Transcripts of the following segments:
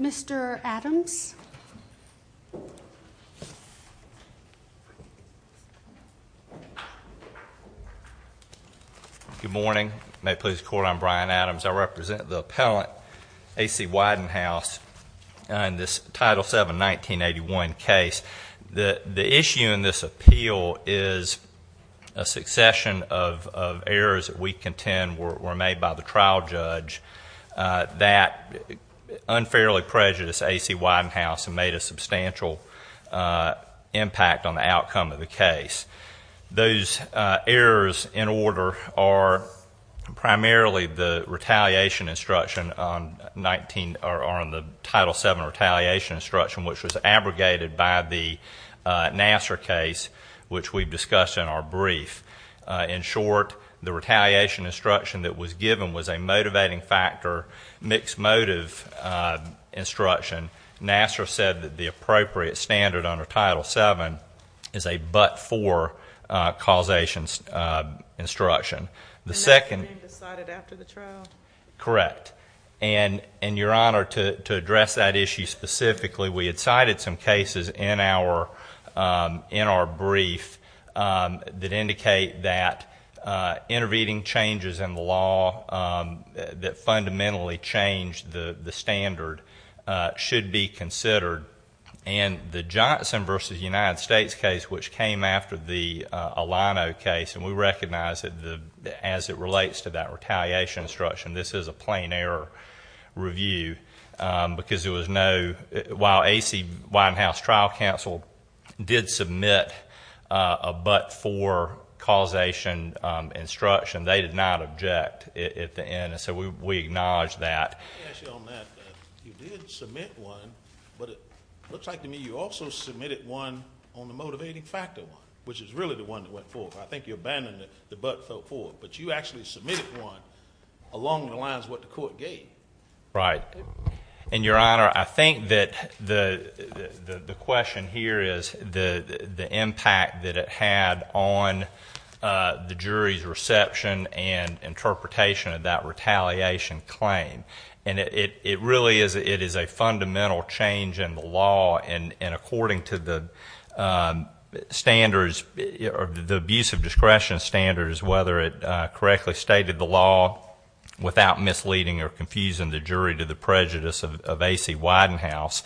Mr. Adams Good morning. May it please the Court, I'm Brian Adams. I represent the appellate A.C. Widenhouse in this Title VII 1981 case. The issue in this appeal is a succession of errors that we contend were made by the trial judge that unfairly prejudiced A.C. Widenhouse and made a substantial impact on the outcome of the case. Those errors in order are primarily the retaliation instruction on Title VII retaliation instruction which was abrogated by the Nassar case which we've discussed in our brief. In short, the retaliation instruction that was given was a motivating factor, mixed motive instruction. Nassar said that the appropriate standard under Title VII is a but-for causation instruction. The second And that's been decided after the trial? Correct. And your Honor, to address that issue specifically, we had cited some cases in our brief that indicate that intervening changes in the law that fundamentally changed the standard should be considered. And the Johnson v. United States case which came after the Alano case, and we recognize that as it relates to that retaliation instruction, this is a a but-for causation instruction. They did not object at the end, so we acknowledge that. Let me ask you on that. You did submit one, but it looks like to me you also submitted one on the motivating factor one, which is really the one that went forth. I think you abandoned the but-for, but you actually submitted one along the lines of what the court gave. Right. And your Honor, I think that the question here is the impact that it had on the jury's reception and interpretation of that retaliation claim. And it really is a fundamental change in the law, and according to the standards, the abuse of discretion standards, whether it correctly stated the law without misleading or confusing the jury to the prejudice of A.C. Widenhouse,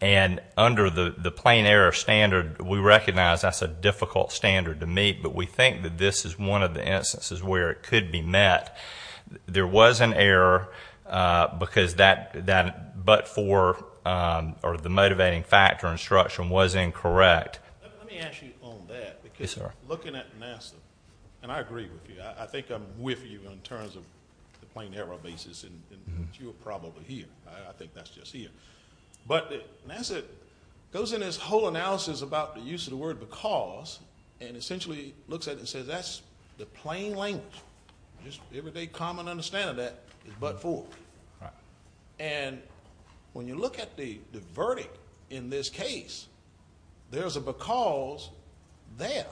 and under the plain error standard, we recognize that's a difficult standard to meet, but we think that this is one of the instances where it could be met. There was an error because that but-for or the motivating factor instruction was incorrect. Let me ask you on that, because looking at NASA, and I agree with you, I think I'm with you in terms of the plain error basis, and you're probably here. I think that's just here. But NASA goes in its whole analysis about the use of the word because, and essentially looks at it and says that's the plain language. Just the everyday common understanding of but-for. And when you look at the verdict in this case, there's a because there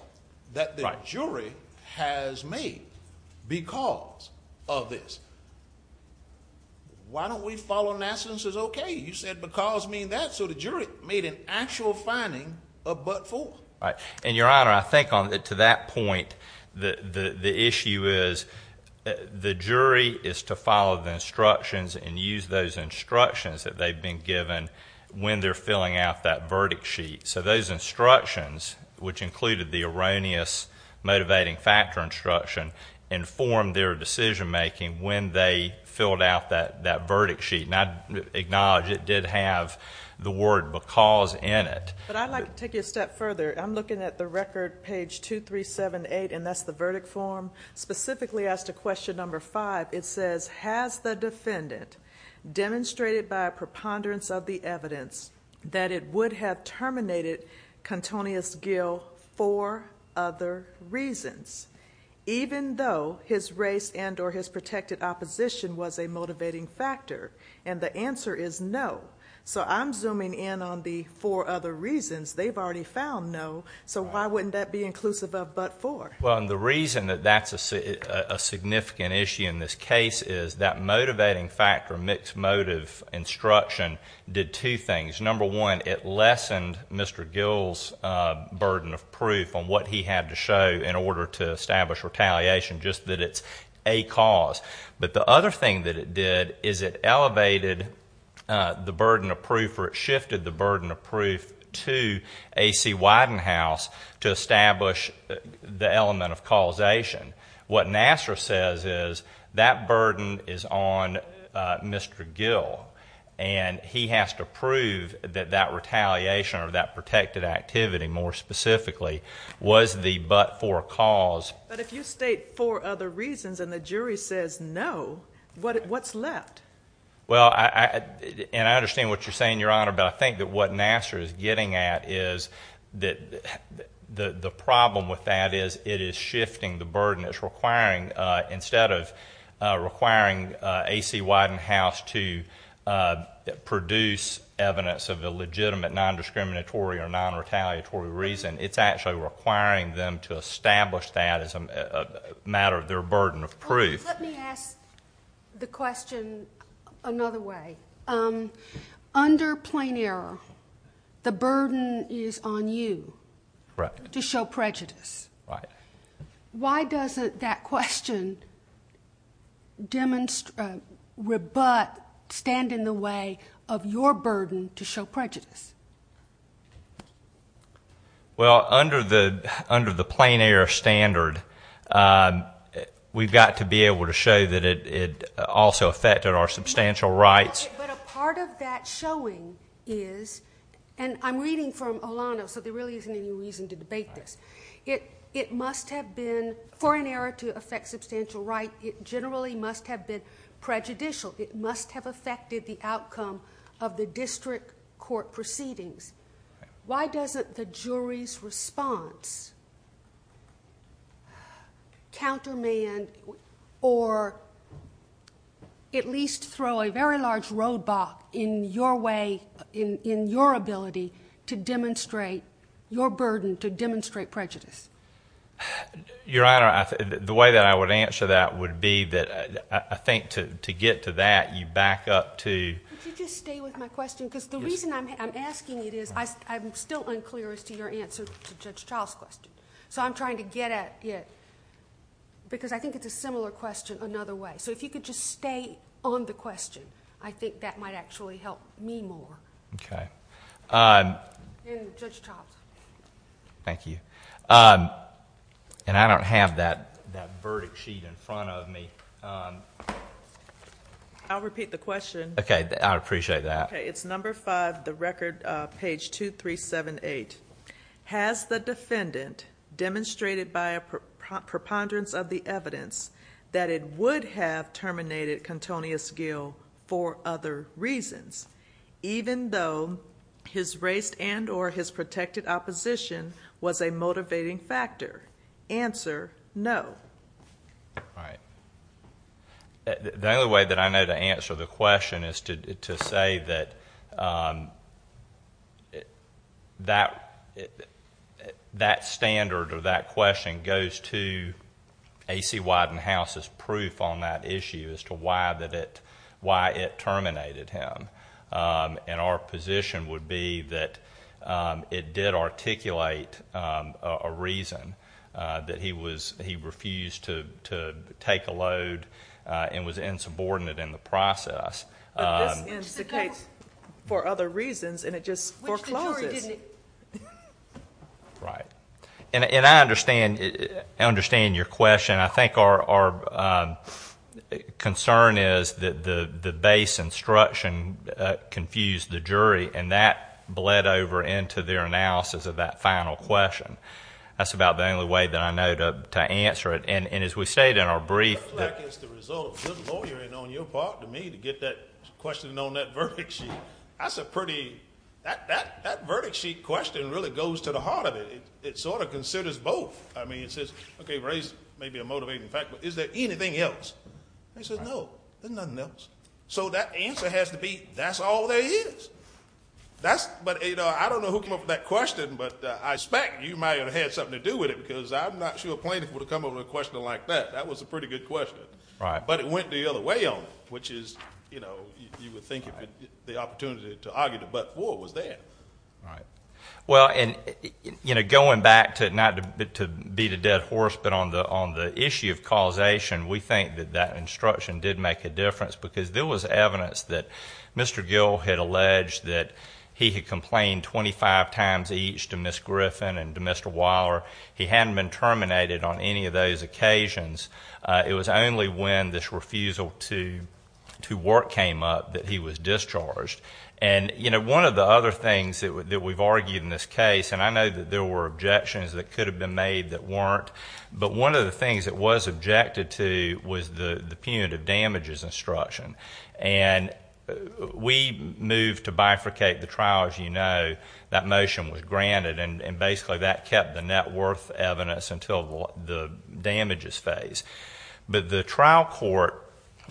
that the jury has made because of this. Why don't we follow NASA and say, okay, you said because mean that, so the jury made an actual finding of but-for. Right. And, Your Honor, I think to that point, the issue is the jury is to follow the instructions and use those instructions that they've been given when they're filling out that verdict sheet. So those instructions, which included the erroneous motivating factor instruction, informed their decision-making when they filled out that verdict sheet. And I acknowledge it did have the word because in it. But I'd like to take you a step further. I'm looking at the record, page 2378, and that's the verdict form, specifically as to question number five. It says, has the defendant demonstrated by a preponderance of the evidence that it would have terminated Contonious Gill for other reasons, even though his race and or his protected opposition was a motivating factor? And the answer is no. So I'm zooming in on the four other reasons. They've already found no. So why wouldn't that be inclusive of but-for? Well, and the reason that that's a significant issue in this case is that motivating factor, mixed motive instruction, did two things. Number one, it lessened Mr. Gill's burden of proof on what he had to show in order to establish retaliation, just that it's a cause. But the other thing that it did is it elevated the burden of proof, or it shifted the burden of proof to A.C. Widenhouse to establish the element of causation. What Nassar says is that burden is on Mr. Gill, and he has to prove that that retaliation or that protected activity, more specifically, was the but-for cause. But if you state four other reasons and the jury says no, what's left? Well, and I understand what you're saying, Your Honor, but I think that what Nassar is getting at is that the problem with that is it is shifting the burden. It's requiring, instead of requiring A.C. Widenhouse to produce evidence of a legitimate non-discriminatory or non-retaliatory reason, it's actually requiring them to establish that as a matter of their burden of proof. Well, let me ask the question another way. Under plain error, the burden is on you to show prejudice. Why doesn't that question demonstrate, rebut, stand in the way of your claim? Well, under the plain error standard, we've got to be able to show that it also affected our substantial rights. But a part of that showing is, and I'm reading from Olano, so there really isn't any reason to debate this, it must have been, for an error to affect substantial right, it generally must have been prejudicial. It must have affected the outcome of the district court proceedings. Why doesn't the jury's response countermand or at least throw a very large roadblock in your way, in your ability, to demonstrate your burden, to demonstrate prejudice? Your Honor, the way that I would answer that would be that I think to get to that, you back up to... Could you just stay with my question? Because the reason I'm asking it is, I'm still unclear as to your answer to Judge Child's question. So I'm trying to get at it, because I think it's a similar question another way. So if you could just stay on the question, I think that might actually help me more. Okay. And Judge Child. Thank you. And I don't have that verdict sheet in front of me. I'll repeat the question. Okay. I'd appreciate that. Okay. It's number 5, the record, page 2378. Has the defendant demonstrated by a preponderance of the evidence that it would have terminated Kentonius Gill for other reasons, even though his race and or his protected opposition was a motivating factor? Answer, no. All right. The only way that I know to answer the question is to say that that standard or that question goes to A.C. Wyden House's proof on that issue as to why it terminated him. And our position would be that it did articulate a reason that he refused to take a load and was insubordinate in the process. But this instigates for other reasons, and it just forecloses. Which the jury didn't. Right. And I understand your question. I think our concern is that the base instruction confused the jury, and that bled over into their analysis of that final question. That's about the only way that I know to answer it. And as we stated in our brief... It looks like it's the result of good lawyering on your part to me to get that question on that verdict sheet. That's a pretty... That verdict sheet question really goes to the heart of it. It sort of considers both. I mean, it says, okay, race may be a motivating factor, but is there anything else? They said, no, there's nothing else. So that answer has to be, that's all there is. That's... But I don't know who came up with that question, but I suspect you might have had something to do with it, because I'm not sure plenty of people would have come up with a question like that. That was a pretty good question. But it went the other way on it, which is, you know, you would think it would be the opportunity to argue the butt war was there. Right. Well, and, you know, going back to not to beat a dead horse, but on the issue of causation, we think that that instruction did make a difference, because there was evidence that Mr. Gill had alleged that he had complained 25 times each to Ms. Griffin and to Mr. Weiler. He hadn't been terminated on any of those occasions. It was only when this refusal to work came up that he was discharged. And, you know, one of the other things that we've argued in this case, and I know that there were objections that could have been made that weren't, but one of the things that was objected to was the punitive damages instruction. And we moved to bifurcate the trial, as you know. That motion was granted, and basically that kept the net worth evidence until the damages phase. But the trial court,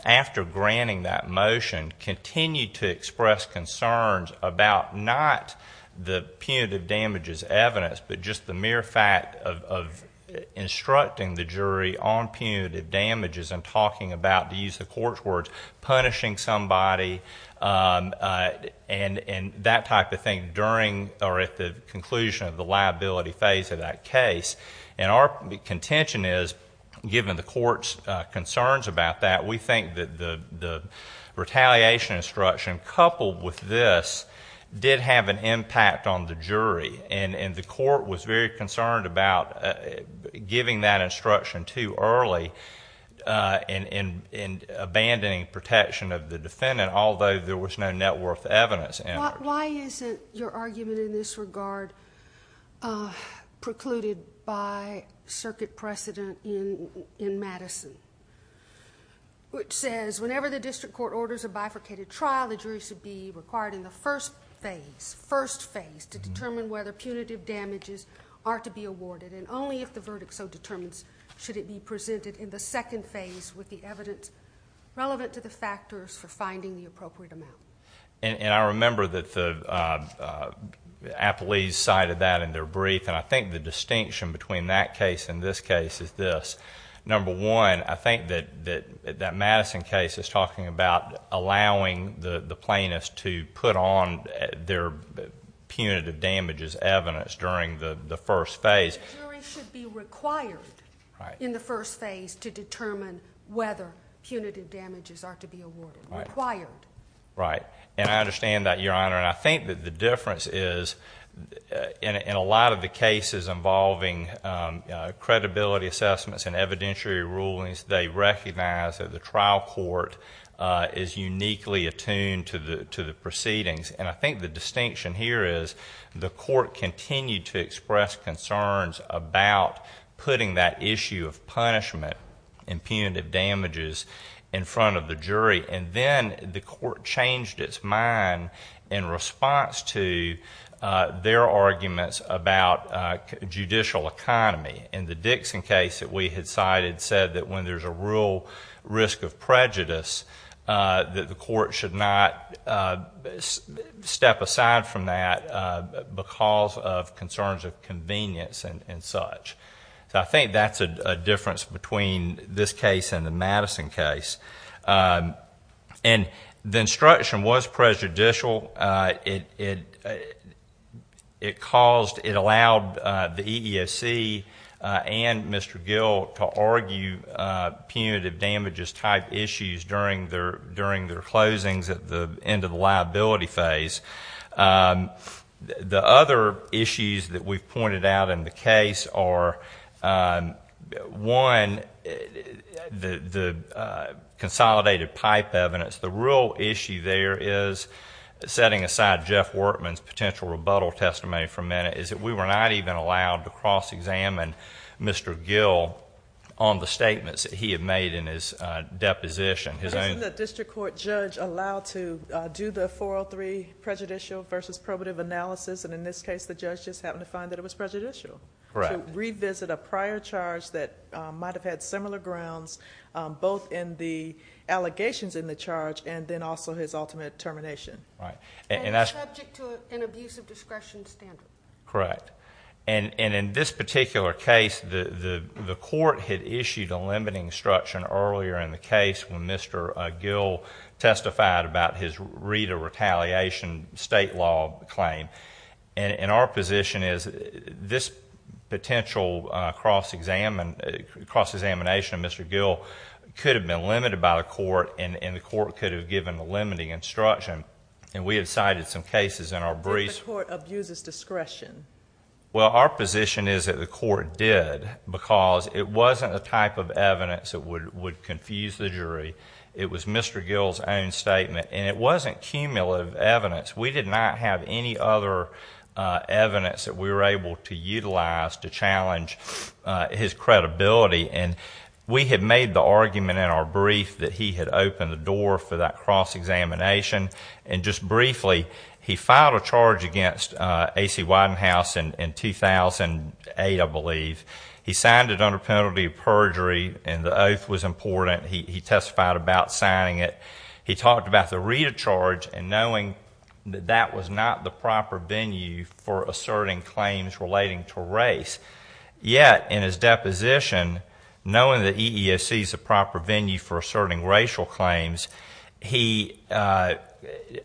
after granting that motion, continued to express concerns about not the punitive damages evidence, but just the mere fact of instructing the jury on punitive damages and talking about, to use the court's words, punishing somebody and that type of thing during or at the conclusion of the liability phase of that case. And our contention is, given the court's concerns about that, we think that the retaliation instruction coupled with this did have an impact on the jury. And the court was very concerned about giving that instruction too early and abandoning protection of the defendant, although there was no net worth evidence. Why isn't your argument in this regard precluded by circuit precedent in Madison, which says whenever the district court orders a bifurcated trial, the jury should be required in the first phase to determine whether punitive damages are to be awarded, and only if the verdict so determines should it be presented in the second phase with the evidence relevant to the factors for finding the appropriate amount. And I remember that the appellees cited that in their brief, and I think the distinction between that case and this case is this. Number one, I think that that Madison case is talking about allowing the plaintiffs to put on their punitive damages evidence during the first phase. The jury should be required in the first phase to determine whether punitive damages are to be awarded. Required. Right. And I understand that, Your Honor. And I think that the difference is, in a lot of the cases involving credibility assessments and evidentiary rulings, they recognize that the trial court is uniquely attuned to the proceedings. And I think the distinction here is the court continued to express concerns about putting that issue of punishment and punitive damages in front of the jury. And then the court changed its mind in response to their arguments about judicial economy. In the Dixon case that we had cited said that when there's a real risk of prejudice, that the court should not step aside from that because of concerns of convenience and such. So I think that's a difference between this case and the Madison case. And the instruction was prejudicial. It caused... it allowed the EEOC and Mr. Gill to argue punitive damages-type issues during their closings at the end of the liability phase. The other issues that we've pointed out in the case are, one, the consolidated pipe evidence. The real issue there is, setting aside Jeff Workman's potential rebuttal testimony for a minute, is that we were not even allowed to cross-examine Mr. Gill on the statements that he had made in his deposition. Wasn't the district court judge allowed to do the 403 prejudicial versus probative analysis? And in this case, the judge just happened to find that it was prejudicial. Correct. To revisit a prior charge that might have had similar grounds, both in the allegations in the charge and then also his ultimate termination. Right. And that's subject to an abuse of discretion standard. Correct. And in this particular case, the court had issued a limiting instruction earlier in the case when Mr. Gill testified about his Rita retaliation state law claim. And our position is, this potential cross-examination of Mr. Gill could have been limited by the court, and the court could have given a limiting instruction. And we had cited some cases in our briefs... But the court abuses discretion. Well, our position is that the court did because it wasn't the type of evidence that would confuse the jury. It was Mr. Gill's own statement. And it wasn't cumulative evidence. We did not have any other evidence that we were able to utilize to challenge his credibility. And we had made the argument in our brief that he had opened the door for that cross-examination. And just briefly, he filed a charge against A.C. Widenhouse in 2008, I believe. He signed it under penalty of perjury, and the oath was important. He testified about signing it. He talked about the Rita charge and knowing that that was not the proper venue for asserting claims relating to race. Yet, in his deposition, knowing that EEOC is the proper venue for asserting racial claims, he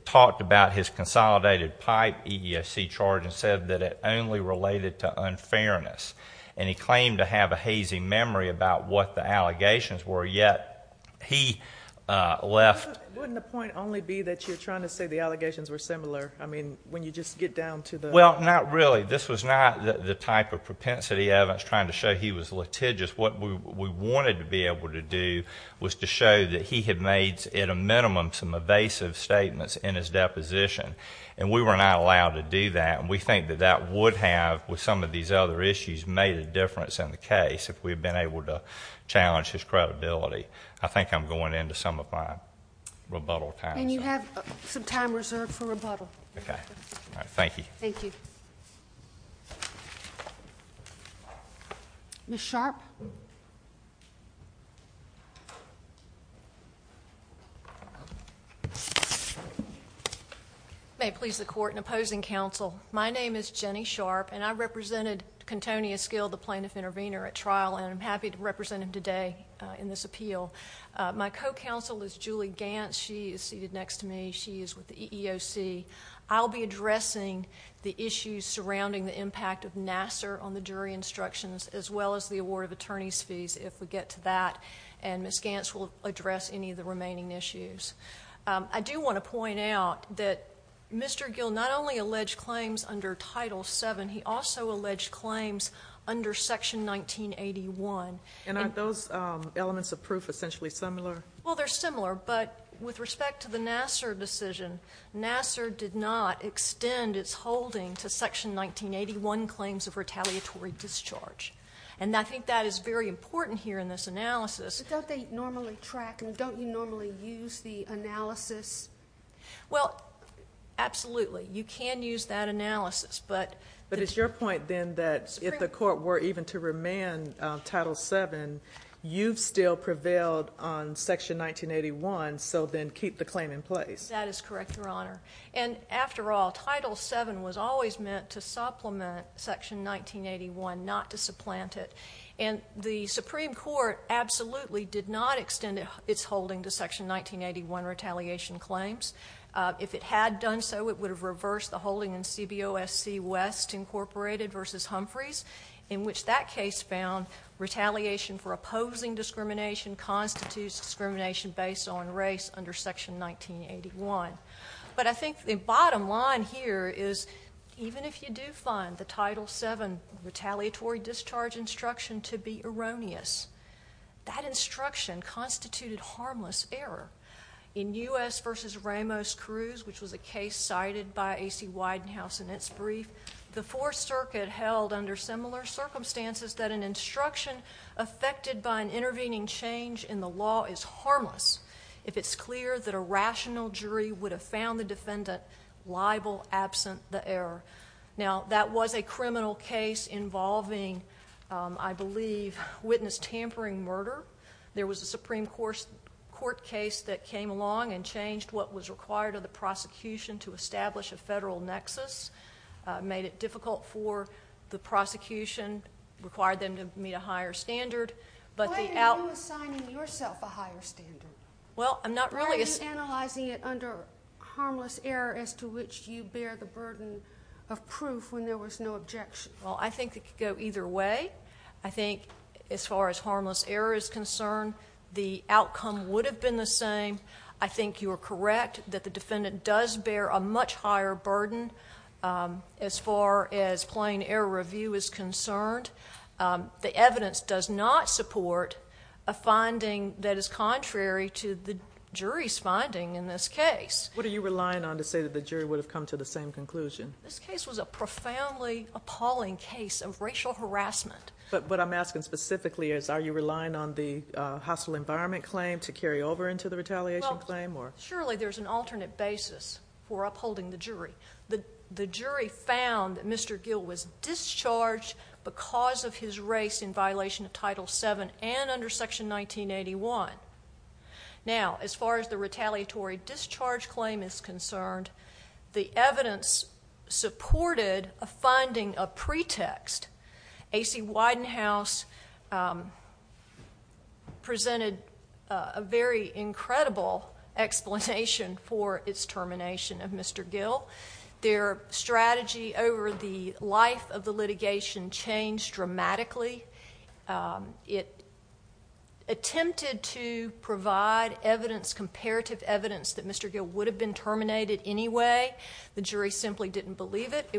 talked about his consolidated pipe EEOC charge and said that only related to unfairness. And he claimed to have a hazy memory about what the allegations were, yet he left... Wouldn't the point only be that you're trying to say the allegations were similar? I mean, when you just get down to the... Well, not really. This was not the type of propensity evidence trying to show he was litigious. What we wanted to be able to do was to show that he had made, at a minimum, some evasive statements in his deposition. And we were not allowed to do that. And we think that that would have, with some of these other issues, made a difference in the case if we had been able to challenge his credibility. I think I'm going into some of my rebuttal time. And you have some time reserved for rebuttal. Thank you. Thank you. Ms. Sharpe? May it please the Court and opposing counsel, my name is Jenny Sharpe, and I represented Kentonia Skill, the plaintiff intervenor, at trial, and I'm happy to represent him today in this appeal. My co-counsel is Julie Gantz. She is seated next to me. She is with the EEOC. I'll be addressing the issues surrounding the impact of Nassar on the jury instructions as well as the award of attorney's fees, if we get to that. And Ms. Gantz will address any of the remaining issues. I do want to point out that Mr. Gill not only alleged claims under Title VII, he also alleged claims under Section 1981. And aren't those elements of proof essentially similar? Well, they're similar. But with respect to the Nassar decision, Nassar did not extend its holding to Section 1981 claims of retaliatory discharge. And I think that is very important here in this analysis. But don't they normally track them? Don't you normally use the analysis? Well, absolutely. You can use that analysis, but... But it's your point, then, that if the Court were even to remand Title VII, you've still prevailed on Section 1981, so then keep the claim in place. That is correct, Your Honor. And after all, Title VII was always meant to supplement Section 1981, not to supplant it. And the Supreme Court absolutely did not extend its holding to Section 1981 retaliation claims. If it had done so, it would have reversed the holding in CBOSC West, Incorporated v. Humphreys, in which that case found retaliation for opposing discrimination constitutes discrimination based on race under Section 1981. But I think the bottom line here is, even if you do find the Title VII retaliatory discharge instruction to be erroneous, that instruction constituted harmless error. In U.S. v. Ramos Cruz, which was a case cited by A.C. Weidenhouse in its brief, the Fourth Circuit held under similar circumstances that an instruction affected by an intervening change in the law is harmless if it's clear that a rational jury would have found the defendant liable absent the error. Now, that was a criminal case involving, I believe, witness tampering murder. There was a Supreme Court case that came along and changed what was required of the prosecution to establish a federal nexus, made it difficult for the prosecution, required them to meet a higher standard, but the outcome of that case was that the defendant was liable absent the error. Why are you assigning yourself a higher standard? Well, I'm not really. Are you analyzing it under harmless error as to which you bear the burden of proof when there was no objection? Well, I think it could go either way. I think as far as harmless error is concerned, the defendant does bear a much higher burden as far as plain error review is concerned. The evidence does not support a finding that is contrary to the jury's finding in this case. What are you relying on to say that the jury would have come to the same conclusion? This case was a profoundly appalling case of racial harassment. But what I'm asking specifically is, are you relying on the hostile environment claim to carry over into the retaliation claim? Surely there's an alternate basis for upholding the jury. The jury found that Mr. Gill was discharged because of his race in violation of Title VII and under Section 1981. Now, as far as the retaliatory discharge claim is concerned, the evidence supported a finding of pretext. A.C. Widenhouse presented a very incredible example. There was no explanation for its termination of Mr. Gill. Their strategy over the life of the litigation changed dramatically. It attempted to provide evidence, comparative evidence, that Mr. Gill would have been terminated anyway. The jury simply didn't believe it.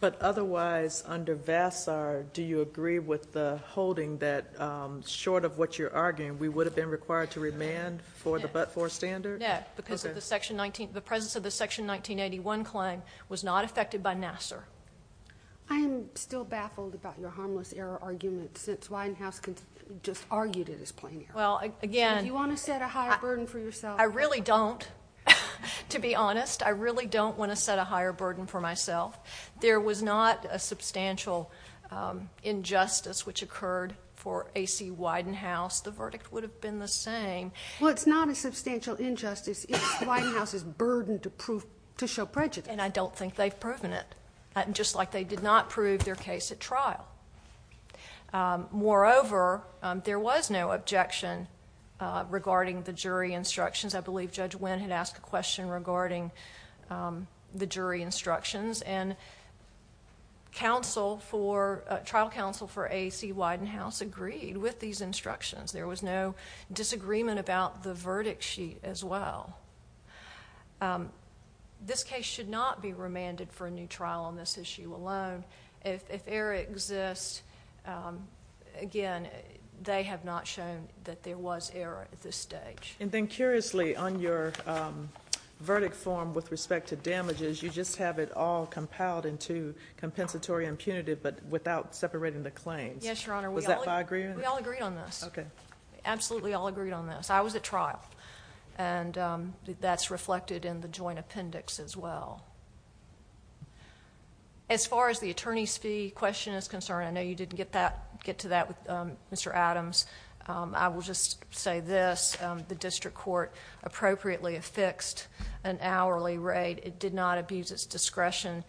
But, otherwise, under Vassar, do you agree with the holding that, short of what you're arguing, we would have been required to remand for the but-for standard? No, because of the presence of the Section 1981 claim was not affected by Nassar. I am still baffled about your harmless error argument, since Widenhouse just argued it as plain error. Well, again... Do you want to set a higher burden for yourself? I really don't, to be honest. I really don't want to set a higher burden for myself. There was not a substantial injustice which occurred for A.C. Widenhouse. The verdict would have been the same. Well, it's not a substantial injustice. It's Widenhouse's burden to prove-to show prejudice. And I don't think they've proven it, just like they did not prove their case at trial. Moreover, there was no objection regarding the jury instructions. I believe Judge Winn had asked a question regarding the jury instructions. And trial counsel for A.C. Widenhouse agreed with these instructions. There was no disagreement about the verdict sheet, as well. This case should not be remanded for a new trial on this issue alone. If error exists, again, they have not shown that there was error at this stage. And then, curiously, on your verdict form with respect to damages, you just have it all compiled into compensatory impunity, but without separating the claims. Yes, Your Honor. Was that by agreement? We all agreed on this. Okay. Absolutely all agreed on this. I was at trial. And that's reflected in the joint appendix, as well. As far as the attorney's fee question is concerned, I know you didn't get to that with Mr. Adams. I will just say this. The district court appropriately affixed an hourly rate. It did not abuse its fee.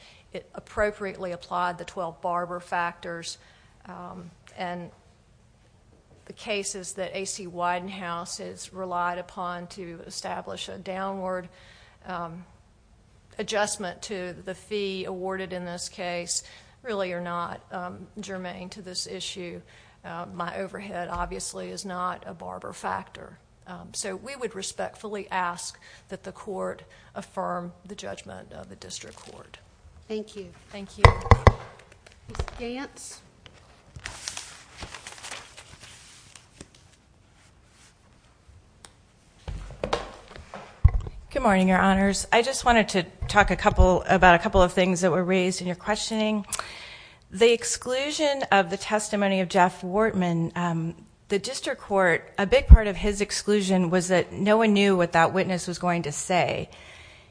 The cases that A.C. Widenhouse has relied upon to establish a downward adjustment to the fee awarded in this case really are not germane to this issue. My overhead, obviously, is not a barber factor. So we would respectfully ask that the court affirm the judgment of the district court. Thank you. Thank you. Ms. Gantz. Good morning, Your Honors. I just wanted to talk about a couple of things that were raised in your questioning. The exclusion of the testimony of Jeff Wortman, the district court, a big part of his exclusion was that no one knew what that witness was going to say.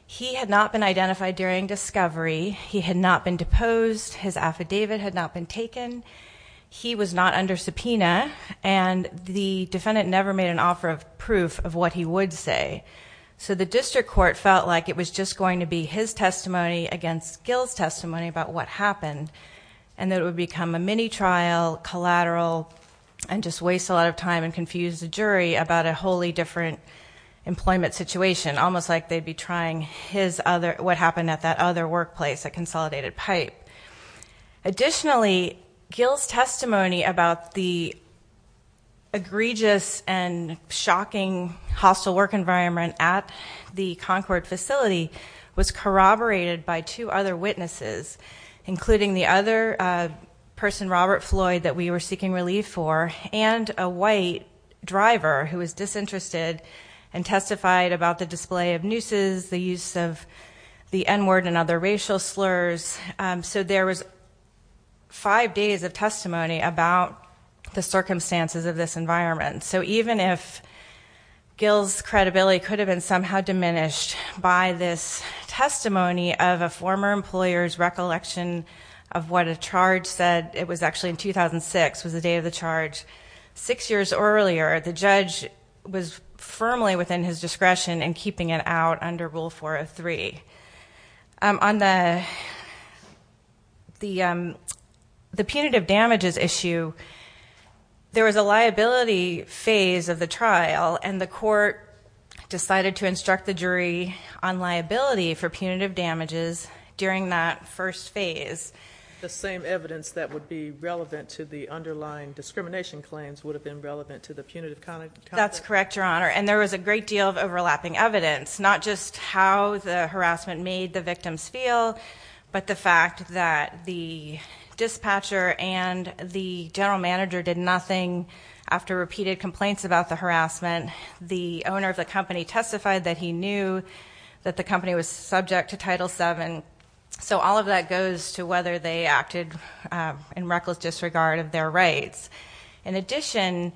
He had not been identified during discovery. He had not been deposed. His affidavit had not been taken. He was not under subpoena, and the defendant never made an offer of proof of what he would say. So the district court felt like it was just going to be his testimony against Gil's testimony about what happened, and that it would become a mini-trial, collateral, and just waste a lot of time and confuse the jury about a wholly different employment situation, almost like they'd be trying what happened at that other workplace, at Consolidated Pipe. Additionally, Gil's testimony about the egregious and shocking hostile work environment at the Concord facility was corroborated by two other witnesses, including the other person, Robert Floyd, that we were seeking relief for, and a white driver who was disinterested and testified about the display of nooses, the use of the N-word and other racial slurs. So there was five days of testimony about the circumstances of this environment. So even if Gil's credibility could have been somehow diminished by this testimony of a former employer's recollection of what a charge said, it was actually in 2006 was the date of the charge, six years earlier, the judge was firmly within his discretion in keeping it out under Rule 403. On the punitive damages issue, there was a liability phase of the trial, and the court decided to instruct the jury on liability for punitive damages during that first phase. The same evidence that would be relevant to the underlying discrimination claims would have been relevant to the punitive conduct? That's correct, Your Honor, and there was a great deal of overlapping evidence, not just how the harassment made the victims feel, but the fact that the dispatcher and the general manager did nothing after repeated complaints about the harassment. The owner of the company testified that he knew that the company was subject to Title VII, so all of that goes to whether they acted in reckless disregard of their rights. In addition,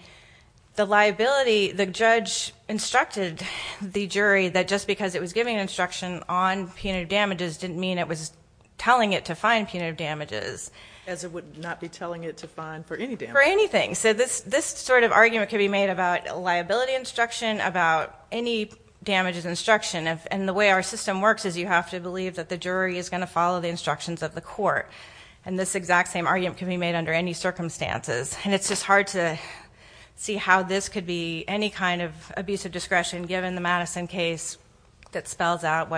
the liability, the judge instructed the jury that just because it was giving instruction on punitive damages didn't mean it was telling it to fine punitive damages. As it would not be telling it to fine for any damages? For anything. So this sort of argument could be made about liability instruction, about any damages instruction, and the way our system works is you have to believe that the jury is going to follow the instructions of the court, and this exact same argument could be made under any circumstances, and it's just hard to see how this could be any kind of abusive discretion given the Madison case that spells out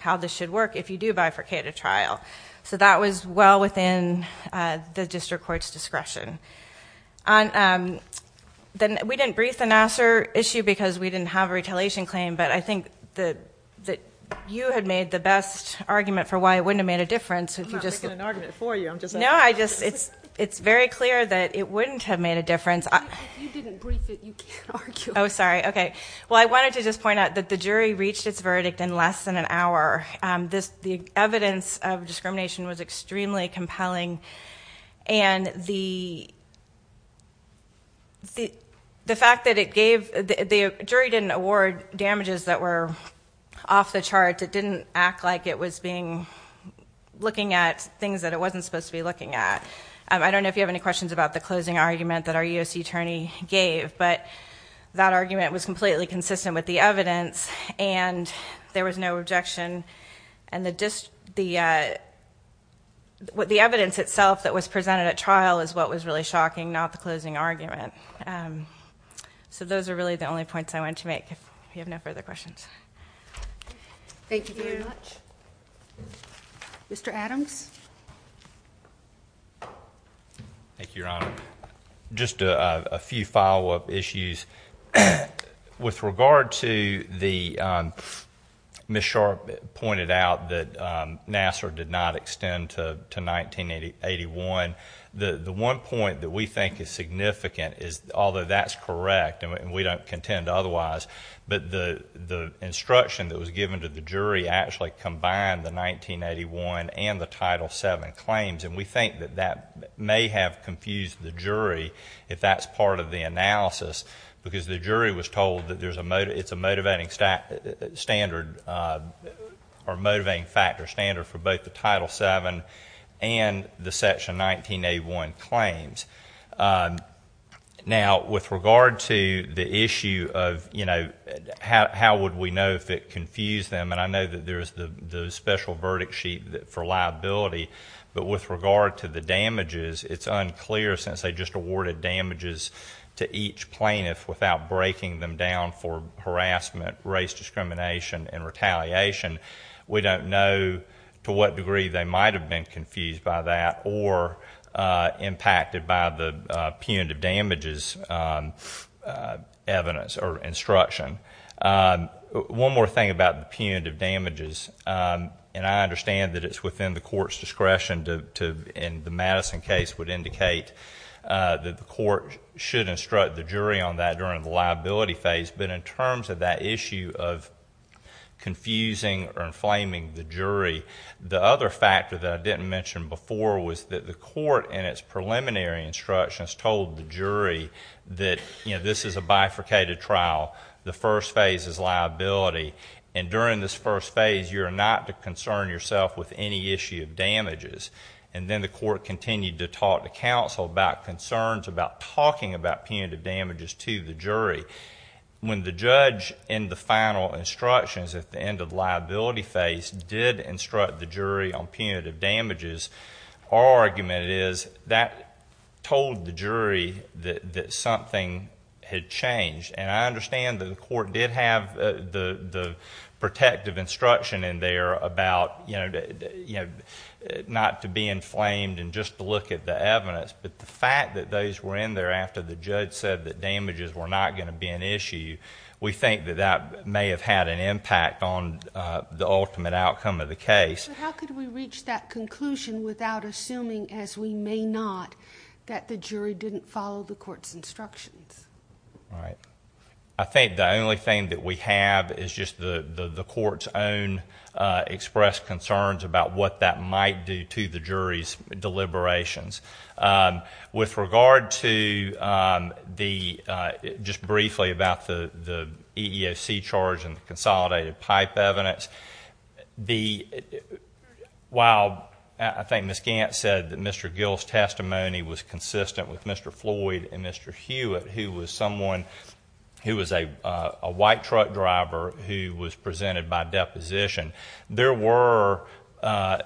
how this should work if you do bifurcate a trial. So that was well within the district court's discretion. We didn't brief the Nassar issue because we didn't have a retaliation claim, but I think that you had made the best argument for why it wouldn't have made a difference if you I'm not making an argument for you, I'm just... No, I just, it's very clear that it wouldn't have made a difference. If you didn't brief it, you can't argue. Oh, sorry. Okay. Well, I wanted to just point out that the jury reached its verdict in less than an hour. The evidence of discrimination was extremely compelling, and the fact that the jury didn't award damages that were off the charts, it didn't act like it was looking at things that it wasn't supposed to be looking at. I don't know if you have any questions about the closing argument that our U.S.C. attorney gave, but that argument was completely consistent with the evidence, and there was no objection. The evidence itself that was so those are really the only points I wanted to make, if you have no further questions. Thank you very much. Mr. Adams? Thank you, Your Honor. Just a few follow-up issues. With regard to the... Ms. Sharp pointed out that Nassar did not extend to 1981. The one point that we think is significant, although that's correct, and we don't contend otherwise, but the instruction that was given to the jury actually combined the 1981 and the Title VII claims, and we think that that may have confused the jury, if that's part of the analysis, because the jury was told that it's a motivating factor standard for both the Title VII and the Section 1981 claims. Now, with respect to the issue of how would we know if it confused them, and I know that there's the special verdict sheet for liability, but with regard to the damages, it's unclear, since they just awarded damages to each plaintiff without breaking them down for harassment, race discrimination, and retaliation. We don't know to what degree they might have been confused by that or impacted by the punitive damages evidence or instruction. One more thing about the punitive damages, and I understand that it's within the court's discretion to, in the Madison case, would indicate that the court should instruct the jury on that during the liability phase, but in terms of that issue of confusing or inflaming the jury, the other factor that I didn't mention before was that the court, in its preliminary instructions, told the jury that this is a bifurcated trial, the first phase is liability, and during this first phase, you're not to concern yourself with any issue of damages. Then the court continued to talk to counsel about concerns, about talking about punitive damages to the jury. When the judge, in the case, our argument is that told the jury that something had changed, and I understand that the court did have the protective instruction in there about, you know, not to be inflamed and just to look at the evidence, but the fact that those were in there after the judge said that damages were not going to be an issue, we think that that may have had an impact on the ultimate outcome of the case. But how could we reach that conclusion without assuming, as we may not, that the jury didn't follow the court's instructions? Right. I think the only thing that we have is just the court's own expressed concerns about what that might do to the jury's deliberations. With regard to the, just briefly about the jury, while I think Ms. Gant said that Mr. Gill's testimony was consistent with Mr. Floyd and Mr. Hewitt, who was someone who was a white truck driver who was presented by deposition, there were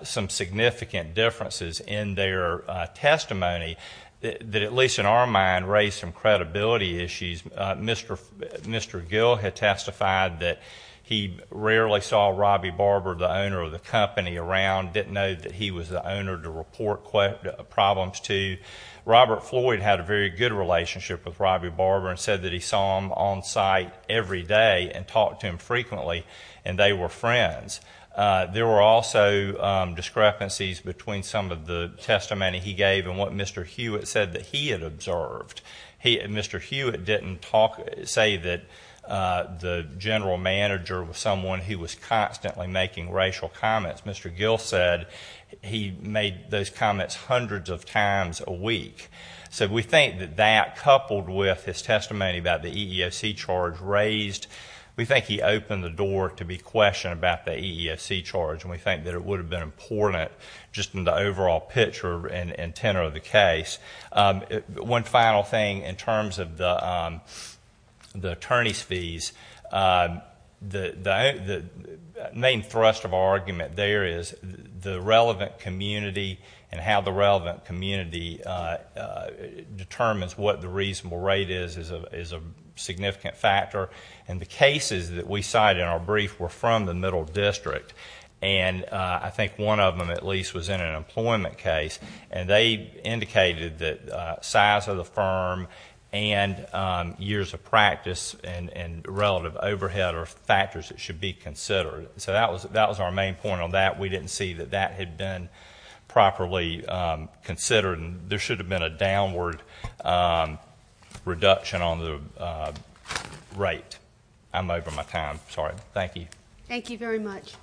some significant differences in their testimony that at least in our mind raised some credibility issues. Mr. Gill had testified that he rarely saw Robbie Barber, the owner of the company, around, didn't know that he was the owner to report problems to. Robert Floyd had a very good relationship with Robbie Barber and said that he saw him on site every day and talked to him frequently, and they were friends. There were also discrepancies between some of the testimony he gave and what Mr. Hewitt said that he had observed. Mr. Hewitt didn't say that the general manager was someone who was constantly making racial comments. Mr. Gill said he made those comments hundreds of times a week. So we think that that coupled with his testimony about the EEOC charge raised, we think he opened the door to be questioned about the EEOC charge, and we think that it would have been important just in the overall picture and tenor of the case. One final thing in terms of the attorney's fees, the main thrust of our argument there is the relevant community and how the relevant community determines what the reasonable rate is is a significant factor, and the cases that we cite in our brief were from the middle district, and I think one of them at least was in an employment case, and they indicated that size of the firm and years of practice and relative overhead are factors that should be considered. So that was our main point on that. We didn't see that that had been properly considered, and there should have been a downward reduction on the rate. I'm over my time. Sorry. Thank you. Thank you very much.